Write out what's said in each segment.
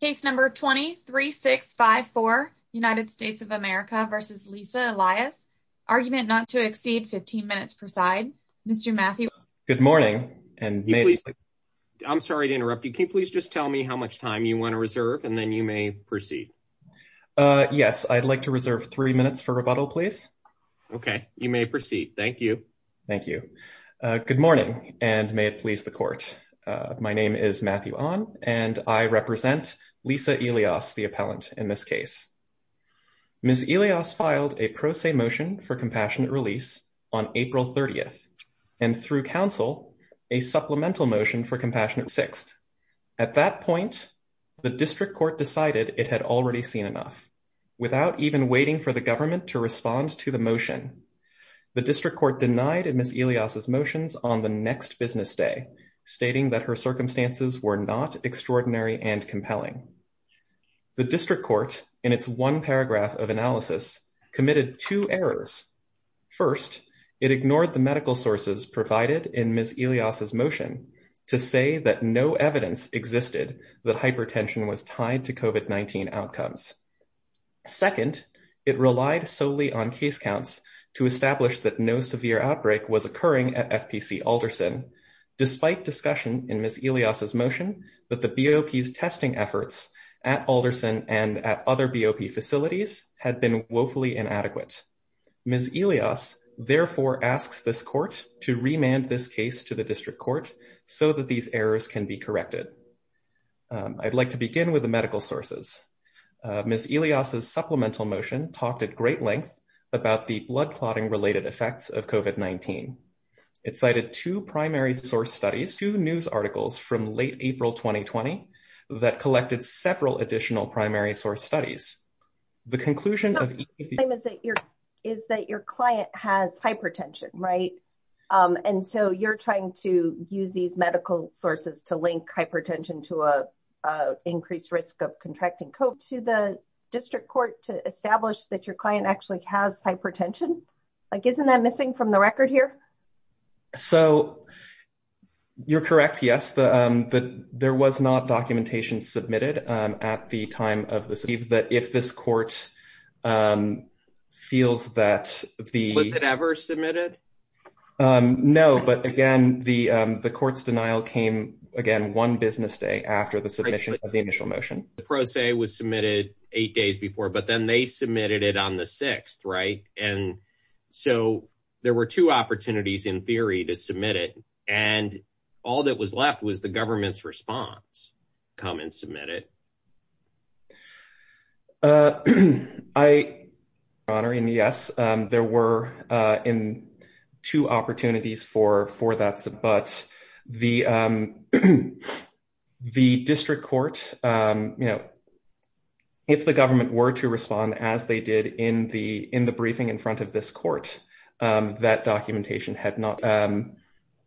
Case No. 20-3654, United States of America v. Lisa Elias, Argument Not to Exceed 15 Minutes Per Side, Mr. Matthew Ahn. Good morning, and may I please... I'm sorry to interrupt you. Can you please just tell me how much time you want to reserve, and then you may proceed. Yes, I'd like to reserve three minutes for rebuttal, please. Okay, you may proceed. Thank you. Thank you. Good morning, and may it please the Court. My name is Matthew Ahn, and I represent Lisa Elias, the appellant in this case. Ms. Elias filed a pro se motion for compassionate release on April 30th, and through counsel, a supplemental motion for compassionate release on April 6th. At that point, the District Court decided it had already seen enough. Without even waiting for the government to respond to the motion, the District Court denied Ms. Elias' motions on the next business day, stating that her circumstances were not extraordinary and compelling. The District Court, in its one paragraph of analysis, committed two errors. First, it ignored the medical sources provided in Ms. Elias' motion to say that no evidence existed that hypertension was tied to COVID-19 outcomes. Second, it relied solely on case counts to establish that no severe outbreak was occurring at FPC Alderson, despite discussion in Ms. Elias' motion that the BOP's testing efforts at Alderson and at other BOP facilities had been woefully inadequate. Ms. Elias therefore asks this Court to remand this case to the District Court so that these errors can be corrected. I'd like to begin with the medical sources. Ms. Elias' supplemental motion talked at great length about the blood clotting related effects of COVID-19. It cited two primary source studies, two news articles from late April 2020, that collected several additional primary source studies. The conclusion of each of these studies is that your client has hypertension, right? And so you're trying to use these medical sources to link hypertension to an increased risk of contracting COVID-19. Do you want the District Court to establish that your client actually has hypertension? Isn't that missing from the record here? So, you're correct, yes. There was not documentation submitted at the time of this. If this Court feels that the… Was it ever submitted? No, but again, the Court's denial came, again, one business day after the submission of the initial motion. The pro se was submitted eight days before, but then they submitted it on the 6th, right? And so there were two opportunities, in theory, to submit it. And all that was left was the government's response, come and submit it. Your Honor, yes, there were two opportunities for that. But the District Court, you know, if the government were to respond as they did in the briefing in front of this Court, that documentation had not…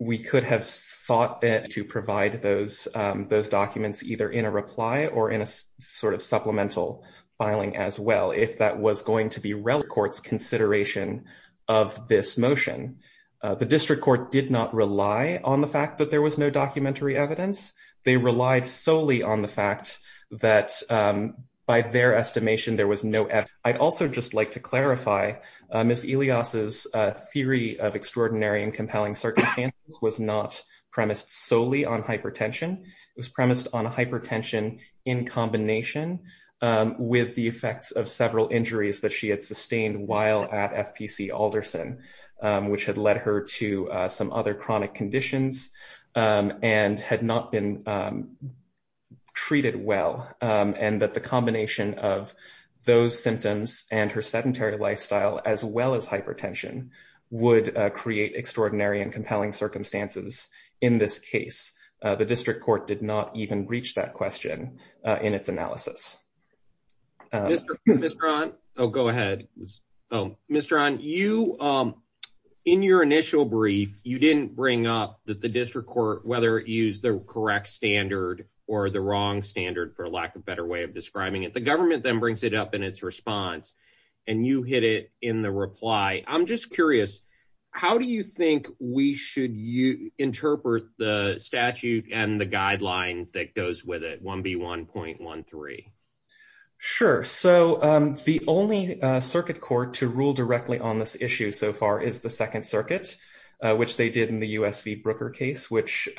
We could have sought to provide those documents either in a reply or in a sort of supplemental filing as well, if that was going to be relevant to the Court's consideration of this motion. The District Court did not rely on the fact that there was no documentary evidence. They relied solely on the fact that, by their estimation, there was no evidence. I'd also just like to clarify, Ms. Elias's theory of extraordinary and compelling circumstances was not premised solely on hypertension. It was premised on hypertension in combination with the effects of several injuries that she had sustained while at FPC Alderson, which had led her to some other chronic conditions and had not been treated well, and that the combination of those symptoms and her sedentary lifestyle, as well as hypertension, would create extraordinary and compelling circumstances in this case. The District Court did not even reach that question in its analysis. Mr. Rahn? Oh, go ahead. Mr. Rahn, in your initial brief, you didn't bring up that the District Court, whether it used the correct standard or the wrong standard, for lack of a better way of describing it. The government then brings it up in its response, and you hit it in the reply. I'm just curious, how do you think we should interpret the statute and the guideline that goes with it, 1B1.13? Sure. So the only circuit court to rule directly on this issue so far is the Second Circuit, which they did in the U.S. v. Brooker case, which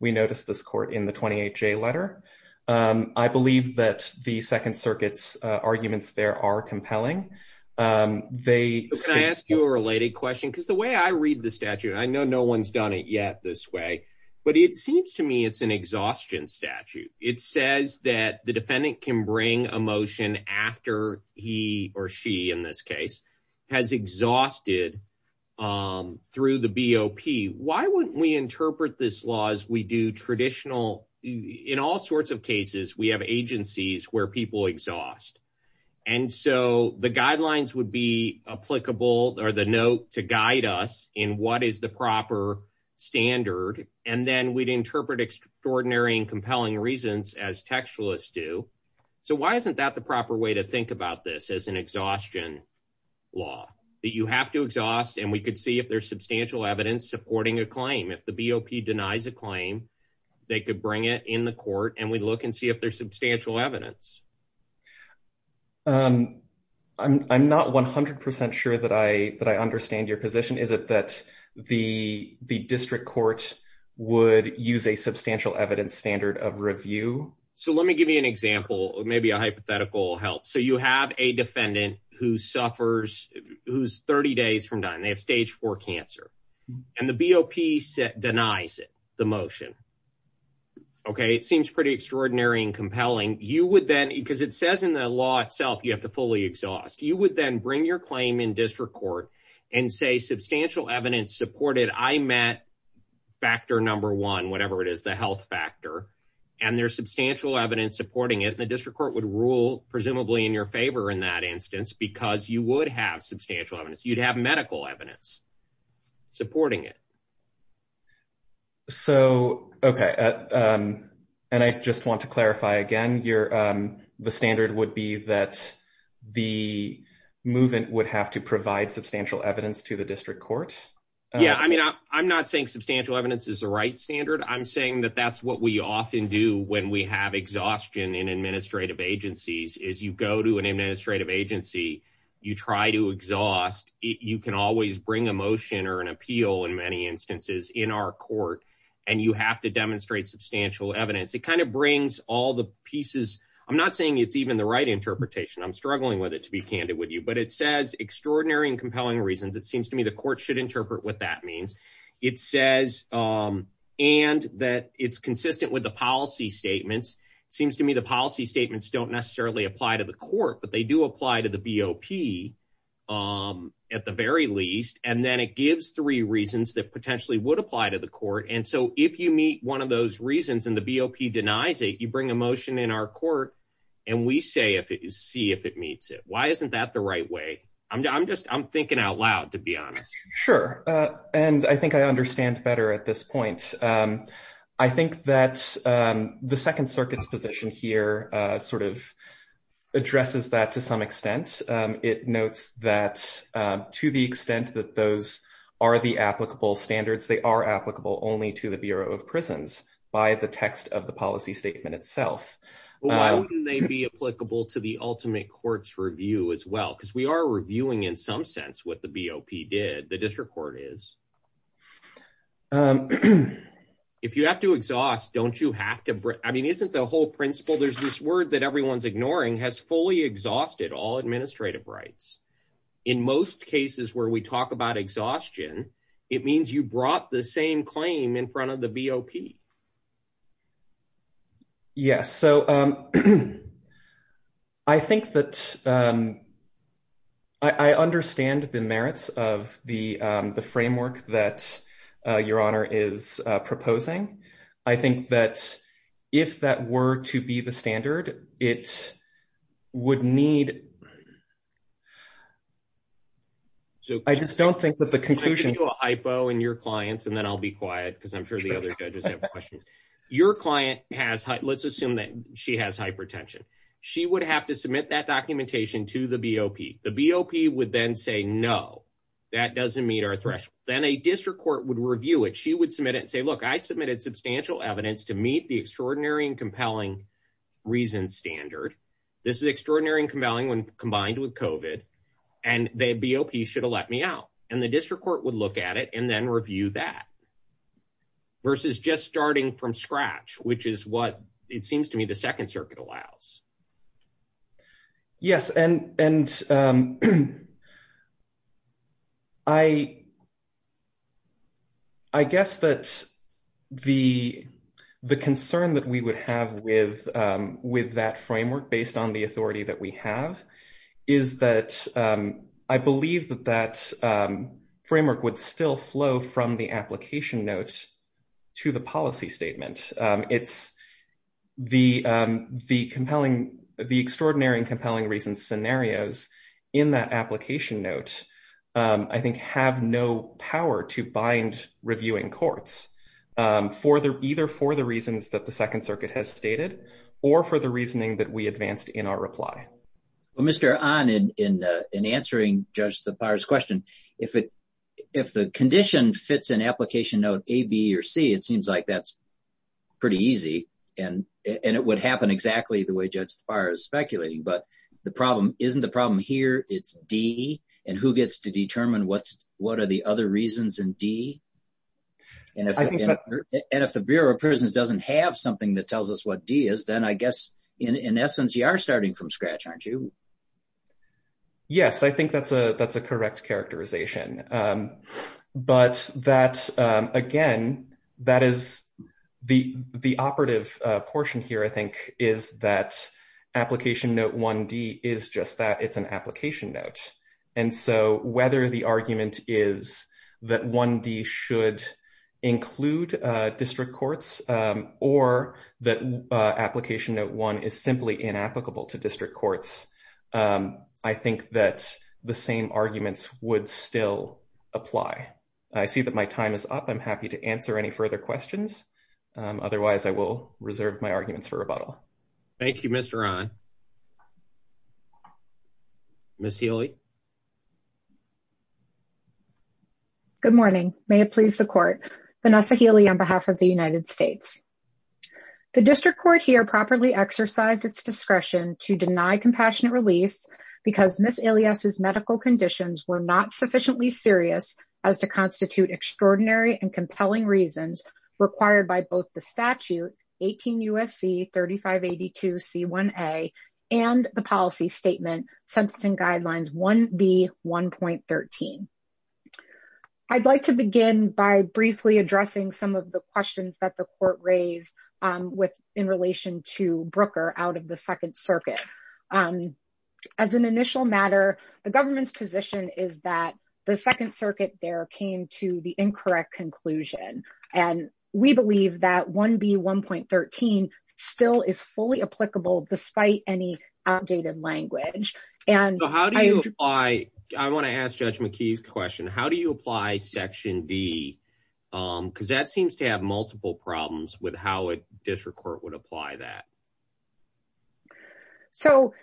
we noticed this court in the 28J letter. I believe that the Second Circuit's arguments there are compelling. Can I ask you a related question? Because the way I read the statute, I know no one's done it yet this way, but it seems to me it's an exhaustion statute. It says that the defendant can bring a motion after he or she, in this case, has exhausted through the BOP. Why wouldn't we interpret this law as we do traditional – in all sorts of cases, we have agencies where people exhaust. And so the guidelines would be applicable or the note to guide us in what is the proper standard, and then we'd interpret extraordinary and compelling reasons as textualists do. So why isn't that the proper way to think about this as an exhaustion law? That you have to exhaust, and we could see if there's substantial evidence supporting a claim. If the BOP denies a claim, they could bring it in the court, and we'd look and see if there's substantial evidence. I'm not 100% sure that I understand your position. Is it that the district court would use a substantial evidence standard of review? So let me give you an example, maybe a hypothetical help. So you have a defendant who suffers – who's 30 days from dying. They have stage 4 cancer, and the BOP denies it, the motion. Okay, it seems pretty extraordinary and compelling. You would then – because it says in the law itself you have to fully exhaust. You would then bring your claim in district court and say substantial evidence supported. I met factor number one, whatever it is, the health factor, and there's substantial evidence supporting it. And the district court would rule presumably in your favor in that instance because you would have substantial evidence. You'd have medical evidence supporting it. So, okay, and I just want to clarify again. The standard would be that the movement would have to provide substantial evidence to the district court? Yeah, I mean, I'm not saying substantial evidence is the right standard. I'm saying that that's what we often do when we have exhaustion in administrative agencies. As you go to an administrative agency, you try to exhaust. You can always bring a motion or an appeal in many instances in our court, and you have to demonstrate substantial evidence. It kind of brings all the pieces – I'm not saying it's even the right interpretation. I'm struggling with it, to be candid with you, but it says extraordinary and compelling reasons. It seems to me the court should interpret what that means. It says – and that it's consistent with the policy statements. It seems to me the policy statements don't necessarily apply to the court, but they do apply to the BOP at the very least. And then it gives three reasons that potentially would apply to the court. And so if you meet one of those reasons and the BOP denies it, you bring a motion in our court, and we see if it meets it. Why isn't that the right way? I'm just – I'm thinking out loud, to be honest. Sure, and I think I understand better at this point. I think that the Second Circuit's position here sort of addresses that to some extent. It notes that to the extent that those are the applicable standards, they are applicable only to the Bureau of Prisons by the text of the policy statement itself. Why wouldn't they be applicable to the ultimate court's review as well? Because we are reviewing in some sense what the BOP did. The district court is. If you have to exhaust, don't you have to – I mean, isn't the whole principle, there's this word that everyone's ignoring, has fully exhausted all administrative rights. In most cases where we talk about exhaustion, it means you brought the same claim in front of the BOP. Yes, so I think that I understand the merits of the framework that Your Honor is proposing. I think that if that were to be the standard, it would need – I just don't think that the conclusion – Let me do a hypo in your clients, and then I'll be quiet because I'm sure the other judges have questions. Your client has – let's assume that she has hypertension. She would have to submit that documentation to the BOP. The BOP would then say, no, that doesn't meet our threshold. Then a district court would review it. She would submit it and say, look, I submitted substantial evidence to meet the extraordinary and compelling reason standard. This is extraordinary and compelling when combined with COVID, and the BOP should have let me out. The district court would look at it and then review that versus just starting from scratch, which is what it seems to me the Second Circuit allows. Yes, and I guess that the concern that we would have with that framework based on the authority that we have is that I believe that that framework would still flow from the application note to the policy statement. The extraordinary and compelling reason scenarios in that application note, I think, have no power to bind reviewing courts, either for the reasons that the Second Circuit has stated or for the reasoning that we advanced in our reply. Well, Mr. Ahn, in answering Judge Thapar's question, if the condition fits an application note A, B, or C, it seems like that's pretty easy, and it would happen exactly the way Judge Thapar is speculating. But the problem isn't the problem here, it's D, and who gets to determine what are the other reasons in D? And if the Bureau of Prisons doesn't have something that tells us what D is, then I guess, in essence, you are starting from scratch, aren't you? Yes, I think that's a correct characterization. But that, again, that is the operative portion here, I think, is that application note 1D is just that, it's an application note. And so whether the argument is that 1D should include district courts or that application note 1 is simply inapplicable to district courts, I think that the same arguments would still apply. I see that my time is up. I'm happy to answer any further questions. Otherwise, I will reserve my arguments for rebuttal. Thank you, Mr. Ahn. Ms. Healy. Good morning. May it please the Court. Vanessa Healy on behalf of the United States. The district court here properly exercised its discretion to deny compassionate release because Ms. Elias's medical conditions were not sufficiently serious as to constitute extraordinary and compelling reasons required by both the statute, 18 U.S.C. 3582 C1A, and the policy statement, Sentencing Guidelines 1B.1.13. I'd like to begin by briefly addressing some of the questions that the Court raised in relation to Brooker out of the Second Circuit. As an initial matter, the government's position is that the Second Circuit there came to the incorrect conclusion, and we believe that 1B.1.13 still is fully applicable despite any outdated language. I want to ask Judge McKee's question. How do you apply Section D? Because that seems to have multiple problems with how a district court would apply that. So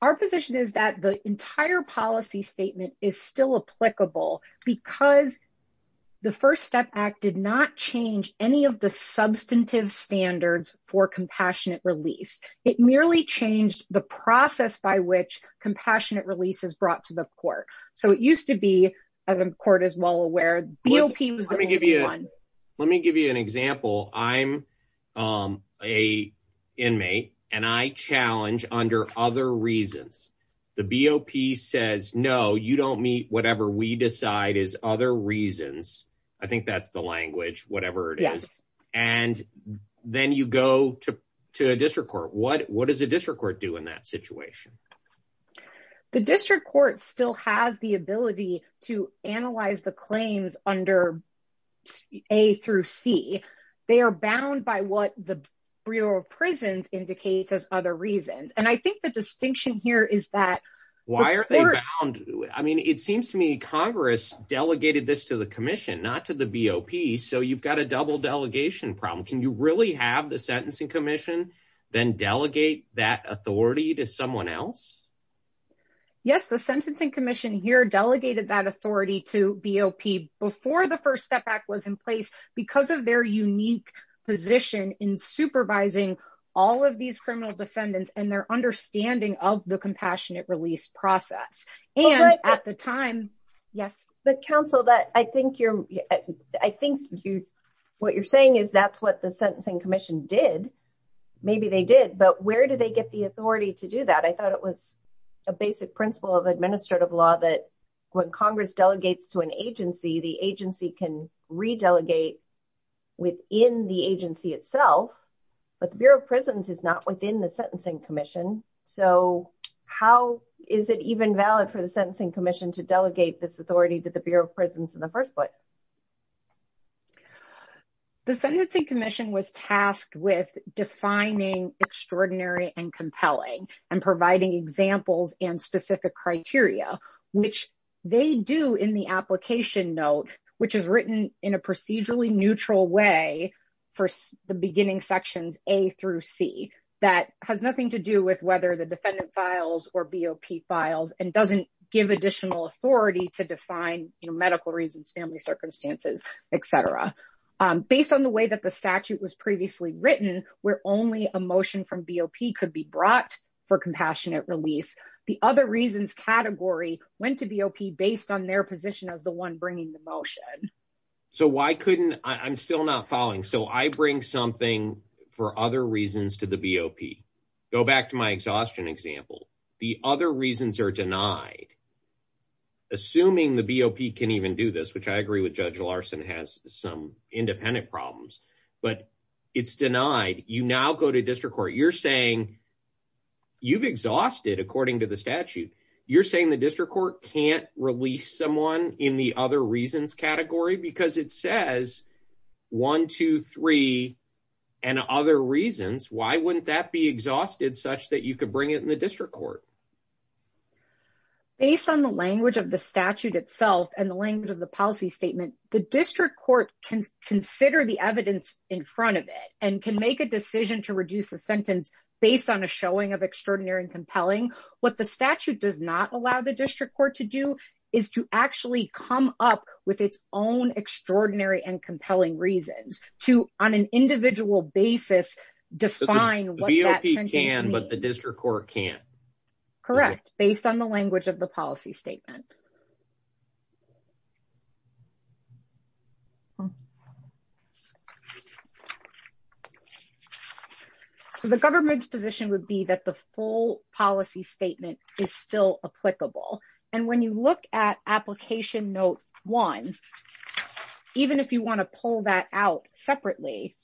our position is that the entire policy statement is still applicable because the First Step Act did not change any of the substantive standards for compassionate release. It merely changed the process by which compassionate release is brought to the Court. So it used to be, as the Court is well aware, BOP was the only one. Let me give you an example. I'm an inmate, and I challenge under other reasons. The BOP says, no, you don't meet whatever we decide is other reasons. I think that's the language, whatever it is. And then you go to a district court. What does a district court do in that situation? The district court still has the ability to analyze the claims under A through C. They are bound by what the Bureau of Prisons indicates as other reasons. And I think the distinction here is that... It seems to me Congress delegated this to the Commission, not to the BOP. So you've got a double delegation problem. Can you really have the Sentencing Commission then delegate that authority to someone else? Yes, the Sentencing Commission here delegated that authority to BOP before the First Step Act was in place because of their unique position in supervising all of these criminal defendants and their understanding of the compassionate release process. But counsel, I think what you're saying is that's what the Sentencing Commission did. Maybe they did, but where do they get the authority to do that? I thought it was a basic principle of administrative law that when Congress delegates to an agency, the agency can re-delegate within the agency itself. But the Bureau of Prisons is not within the Sentencing Commission. So how is it even valid for the Sentencing Commission to delegate this authority to the Bureau of Prisons in the first place? The Sentencing Commission was tasked with defining extraordinary and compelling and providing examples and specific criteria, which they do in the application note, which is written in a procedurally neutral way for the beginning sections A through C. That has nothing to do with whether the defendant files or BOP files and doesn't give additional authority to define medical reasons, family circumstances, etc. Based on the way that the statute was previously written, where only a motion from BOP could be brought for compassionate release, the other reasons category went to BOP based on their position as the one bringing the motion. I'm still not following. So I bring something for other reasons to the BOP. Go back to my exhaustion example. The other reasons are denied. Assuming the BOP can even do this, which I agree with Judge Larson has some independent problems, but it's denied. You now go to district court. You're saying you've exhausted according to the statute. You're saying the district court can't release someone in the other reasons category because it says one, two, three, and other reasons. Why wouldn't that be exhausted such that you could bring it in the district court? Based on the language of the statute itself and the language of the policy statement, the district court can consider the evidence in front of it and can make a decision to reduce the sentence based on a showing of extraordinary and compelling. What the statute does not allow the district court to do is to actually come up with its own extraordinary and compelling reasons to, on an individual basis, define what that sentence means. Correct. Based on the language of the policy statement. So the government's position would be that the full policy statement is still applicable. And when you look at application note one, even if you want to pull that out separately,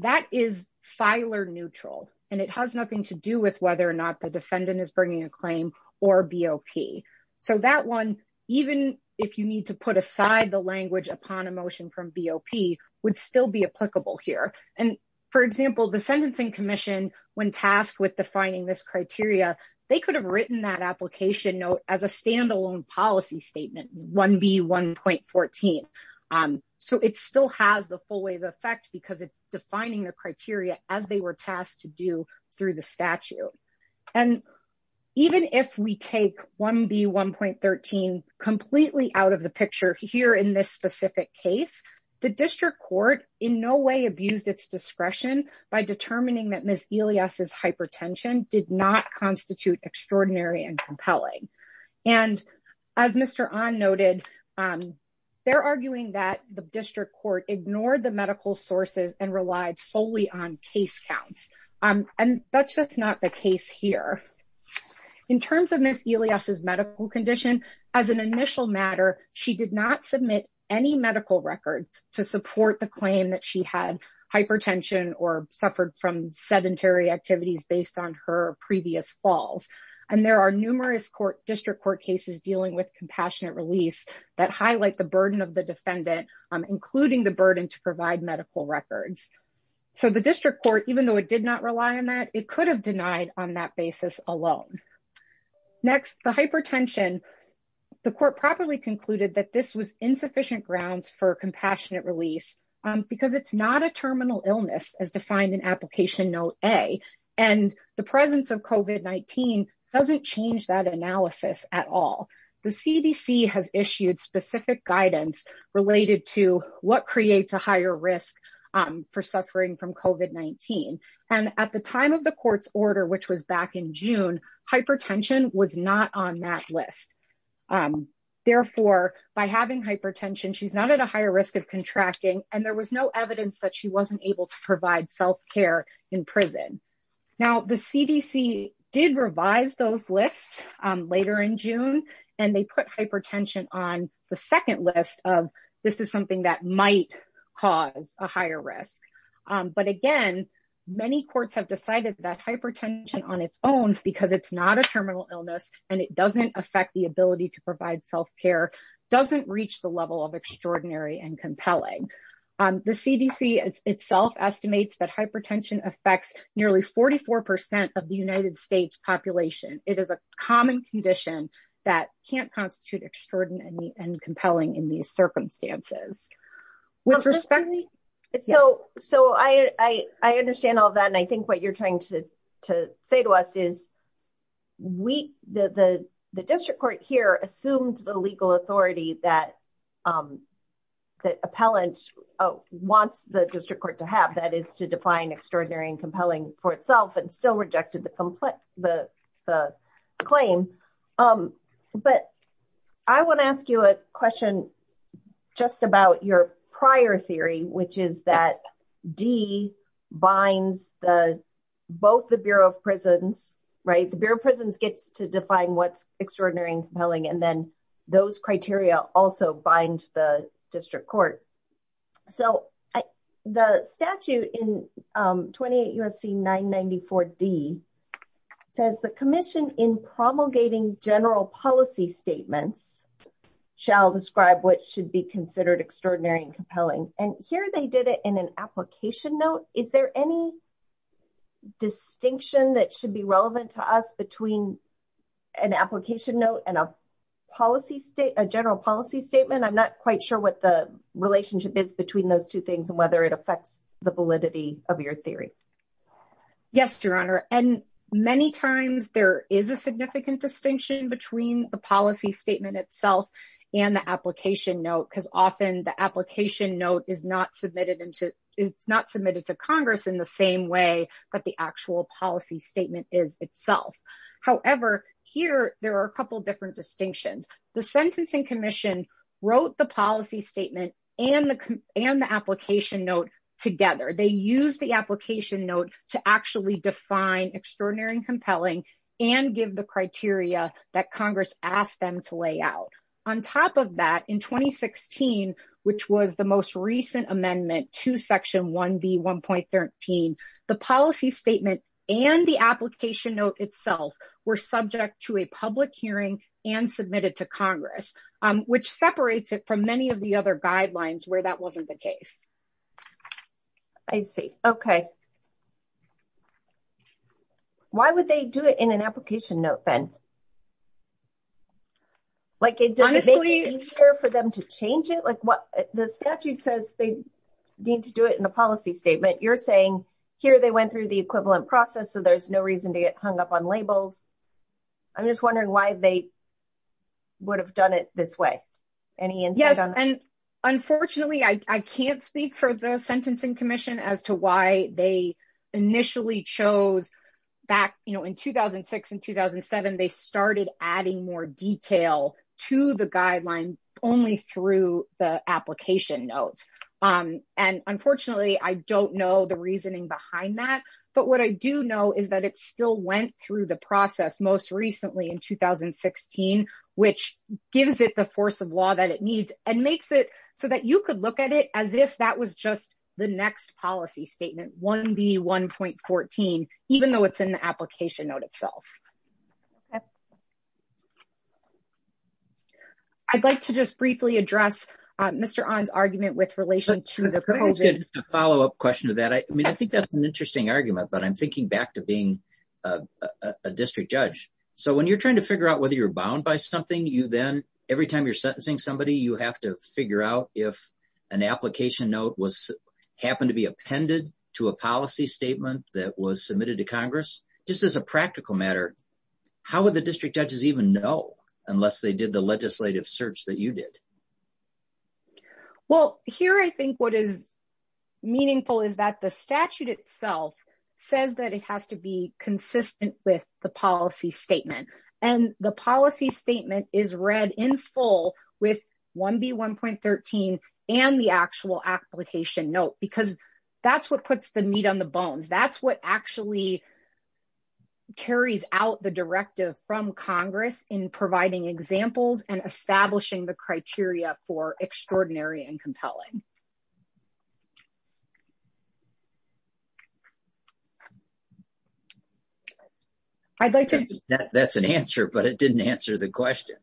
that is filer neutral, and it has nothing to do with whether or not the defendant is bringing a claim or BOP. So that one, even if you need to put aside the language upon a motion from BOP, would still be applicable here. And, for example, the Sentencing Commission, when tasked with defining this criteria, they could have written that application note as a standalone policy statement, 1B1.14. So it still has the full wave effect because it's defining the criteria as they were tasked to do through the statute. And even if we take 1B1.13 completely out of the picture here in this specific case, the district court in no way abused its discretion by determining that Ms. Elias' hypertension did not constitute extraordinary and compelling. And as Mr. Ahn noted, they're arguing that the district court ignored the medical sources and relied solely on case counts. And that's just not the case here. In terms of Ms. Elias' medical condition, as an initial matter, she did not submit any medical records to support the claim that she had hypertension or suffered from sedentary activities based on her previous falls. And there are numerous district court cases dealing with compassionate release that highlight the burden of the defendant, including the burden to provide medical records. So the district court, even though it did not rely on that, it could have denied on that basis alone. Next, the hypertension, the court properly concluded that this was insufficient grounds for compassionate release because it's not a terminal illness as defined in application note A. And the presence of COVID-19 doesn't change that analysis at all. The CDC has issued specific guidance related to what creates a higher risk for suffering from COVID-19. And at the time of the court's order, which was back in June, hypertension was not on that list. Therefore, by having hypertension, she's not at a higher risk of contracting, and there was no evidence that she wasn't able to provide self-care in prison. Now, the CDC did revise those lists later in June, and they put hypertension on the second list of this is something that might cause a higher risk. But again, many courts have decided that hypertension on its own, because it's not a terminal illness, and it doesn't affect the ability to provide self-care, doesn't reach the level of extraordinary and compelling. The CDC itself estimates that hypertension affects nearly 44% of the United States population. It is a common condition that can't constitute extraordinary and compelling in these circumstances. So I understand all that. And I think what you're trying to say to us is the district court here assumed the legal authority that the appellant wants the district court to have, that is to define extraordinary and compelling for itself, and still rejected the claim. But I want to ask you a question just about your prior theory, which is that D binds both the Bureau of Prisons, right? The Bureau of Prisons gets to define what's extraordinary and compelling, and then those criteria also bind the district court. So the statute in 28 U.S.C. 994 D says the commission in promulgating general policy statements shall describe what should be considered extraordinary and compelling. And here they did it in an application note. Is there any distinction that should be relevant to us between an application note and a general policy statement? I'm not quite sure what the relationship is between those two things and whether it affects the validity of your theory. Yes, Your Honor. And many times there is a significant distinction between the policy statement itself and the application note, because often the application note is not submitted to Congress in the same way that the actual policy statement is itself. However, here there are a couple different distinctions. The Sentencing Commission wrote the policy statement and the application note together. They use the application note to actually define extraordinary and compelling and give the criteria that Congress asked them to lay out. On top of that, in 2016, which was the most recent amendment to Section 1B.1.13, the policy statement and the application note itself were subject to a public hearing and submitted to Congress, which separates it from many of the other guidelines where that wasn't the case. I see. Okay. Why would they do it in an application note then? Like, does it make it easier for them to change it? The statute says they need to do it in a policy statement. You're saying here they went through the equivalent process, so there's no reason to get hung up on labels. I'm just wondering why they would have done it this way. Any answers on that? Unfortunately, I can't speak for the Sentencing Commission as to why they initially chose back, you know, in 2006 and 2007, they started adding more detail to the guideline only through the application note. And unfortunately, I don't know the reasoning behind that. But what I do know is that it still went through the process most recently in 2016, which gives it the force of law that it needs and makes it so that you could look at it as if that was just the next policy statement, 1B.1.14, even though it's in the application note itself. Okay. I'd like to just briefly address Mr. Ahn's argument with relation to the COVID. A follow-up question to that. I mean, I think that's an interesting argument, but I'm thinking back to being a district judge. So when you're trying to figure out whether you're bound by something, every time you're sentencing somebody, you have to figure out if an application note happened to be appended to a policy statement that was submitted to Congress. Just as a practical matter, how would the district judges even know unless they did the legislative search that you did? Well, here I think what is meaningful is that the statute itself says that it has to be consistent with the policy statement. And the policy statement is read in full with 1B.1.13 and the actual application note because that's what puts the meat on the bones. That's what actually carries out the directive from Congress in providing examples and establishing the criteria for extraordinary and compelling. That's an answer, but it didn't answer the question.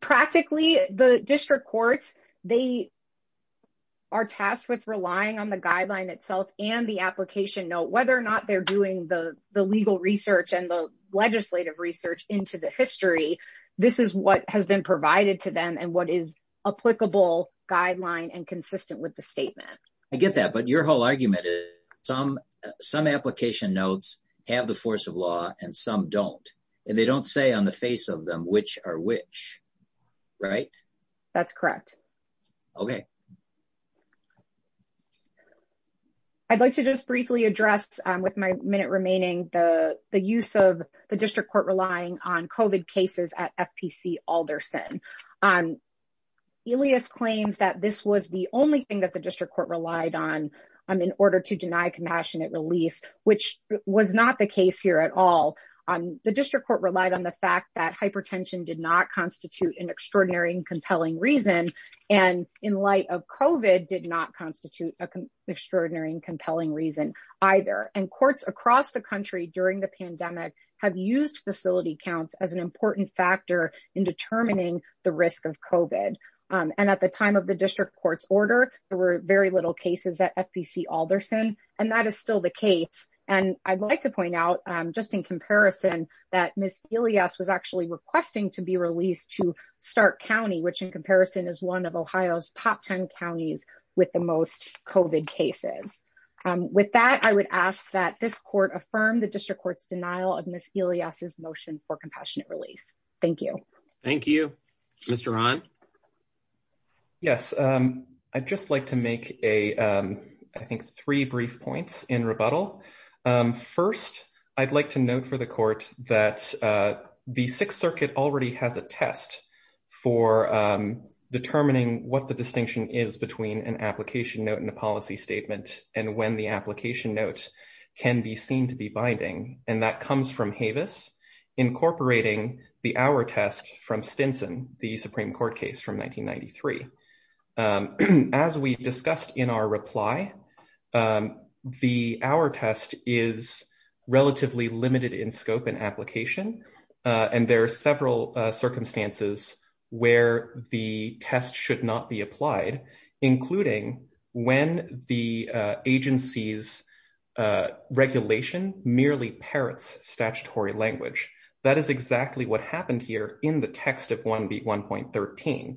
Practically, the district courts, they are tasked with relying on the guideline itself and the application note. Whether or not they're doing the legal research and the legislative research into the history, this is what has been provided to them and what is applicable guideline and consistent with the statement. I get that, but your whole argument is some application notes have the force of law and some don't. And they don't say on the face of them which are which, right? That's correct. Okay. I'd like to just briefly address with my minute remaining the use of the district court relying on COVID cases at FPC Alderson. Elias claims that this was the only thing that the district court relied on in order to deny compassionate release, which was not the case here at all. The district court relied on the fact that hypertension did not constitute an extraordinary and compelling reason. And in light of COVID did not constitute an extraordinary and compelling reason either. And courts across the country during the pandemic have used facility counts as an important factor in determining the risk of COVID. And at the time of the district court's order, there were very little cases at FPC Alderson. And that is still the case. And I'd like to point out just in comparison that Ms. Elias was actually requesting to be released to Stark County, which in comparison is one of Ohio's top 10 counties with the most COVID cases. With that, I would ask that this court affirm the district court's denial of Ms. Elias's motion for compassionate release. Thank you. Thank you. Mr. Ron. Yes. I'd just like to make a, I think, three brief points in rebuttal. First, I'd like to note for the court that the Sixth Circuit already has a test for determining what the distinction is between an application note and a policy statement and when the application notes can be seen to be binding. And that comes from Havis incorporating the Auer test from Stinson, the Supreme Court case from 1993. As we discussed in our reply, the Auer test is relatively limited in scope and application, and there are several circumstances where the test should not be applied, including when the agency's regulation merely parrots statutory language. That is exactly what happened here in the text of 1B1.13.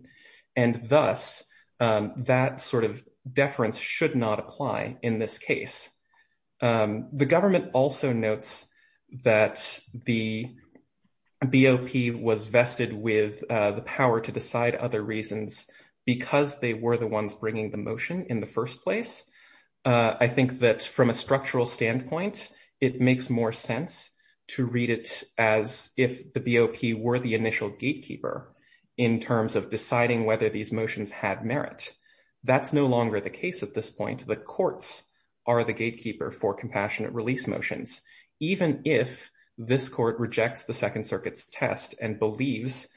And thus, that sort of deference should not apply in this case. The government also notes that the BOP was vested with the power to decide other reasons because they were the ones bringing the motion in the first place. I think that from a structural standpoint, it makes more sense to read it as if the BOP were the initial gatekeeper in terms of deciding whether these motions had merit. That's no longer the case at this point. The courts are the gatekeeper for compassionate release motions, even if this court rejects the Second Circuit's test and believes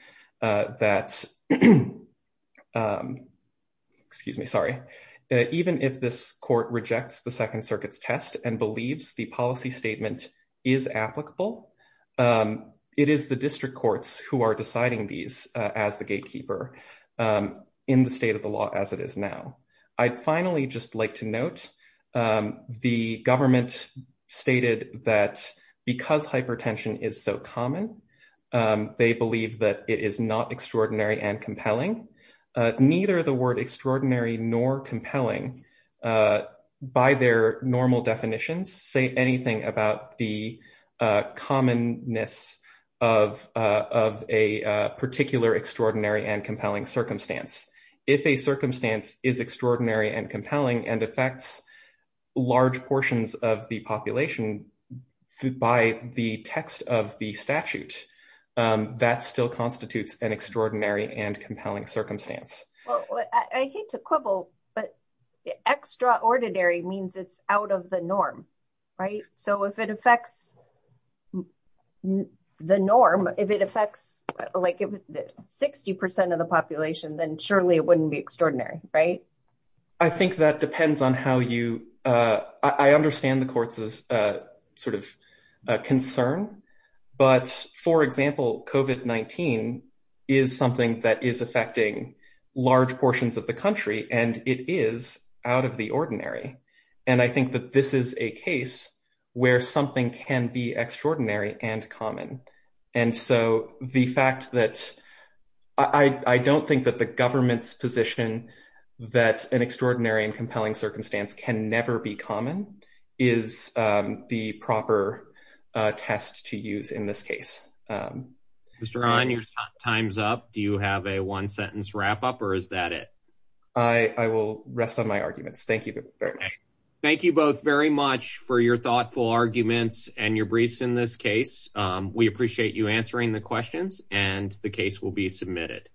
that, excuse me, sorry. Even if this court rejects the Second Circuit's test and believes the policy statement is applicable, it is the district courts who are deciding these as the gatekeeper in the state of the law as it is now. I'd finally just like to note the government stated that because hypertension is so common, they believe that it is not extraordinary and compelling. Neither the word extraordinary nor compelling, by their normal definitions, say anything about the commonness of a particular extraordinary and compelling circumstance. If a circumstance is extraordinary and compelling and affects large portions of the population by the text of the statute, that still constitutes an extraordinary and compelling circumstance. I hate to quibble, but extraordinary means it's out of the norm, right? So if it affects the norm, if it affects like 60% of the population, then surely it wouldn't be extraordinary, right? I think that depends on how you, I understand the court's sort of concern, but for example, COVID-19 is something that is affecting large portions of the country and it is out of the ordinary. And I think that this is a case where something can be extraordinary and common. And so the fact that, I don't think that the government's position that an extraordinary and compelling circumstance can never be common is the proper test to use in this case. Mr. Ahn, your time's up. Do you have a one sentence wrap up or is that it? I will rest on my arguments. Thank you very much. Thank you both very much for your thoughtful arguments and your briefs in this case. We appreciate you answering the questions and the case will be submitted.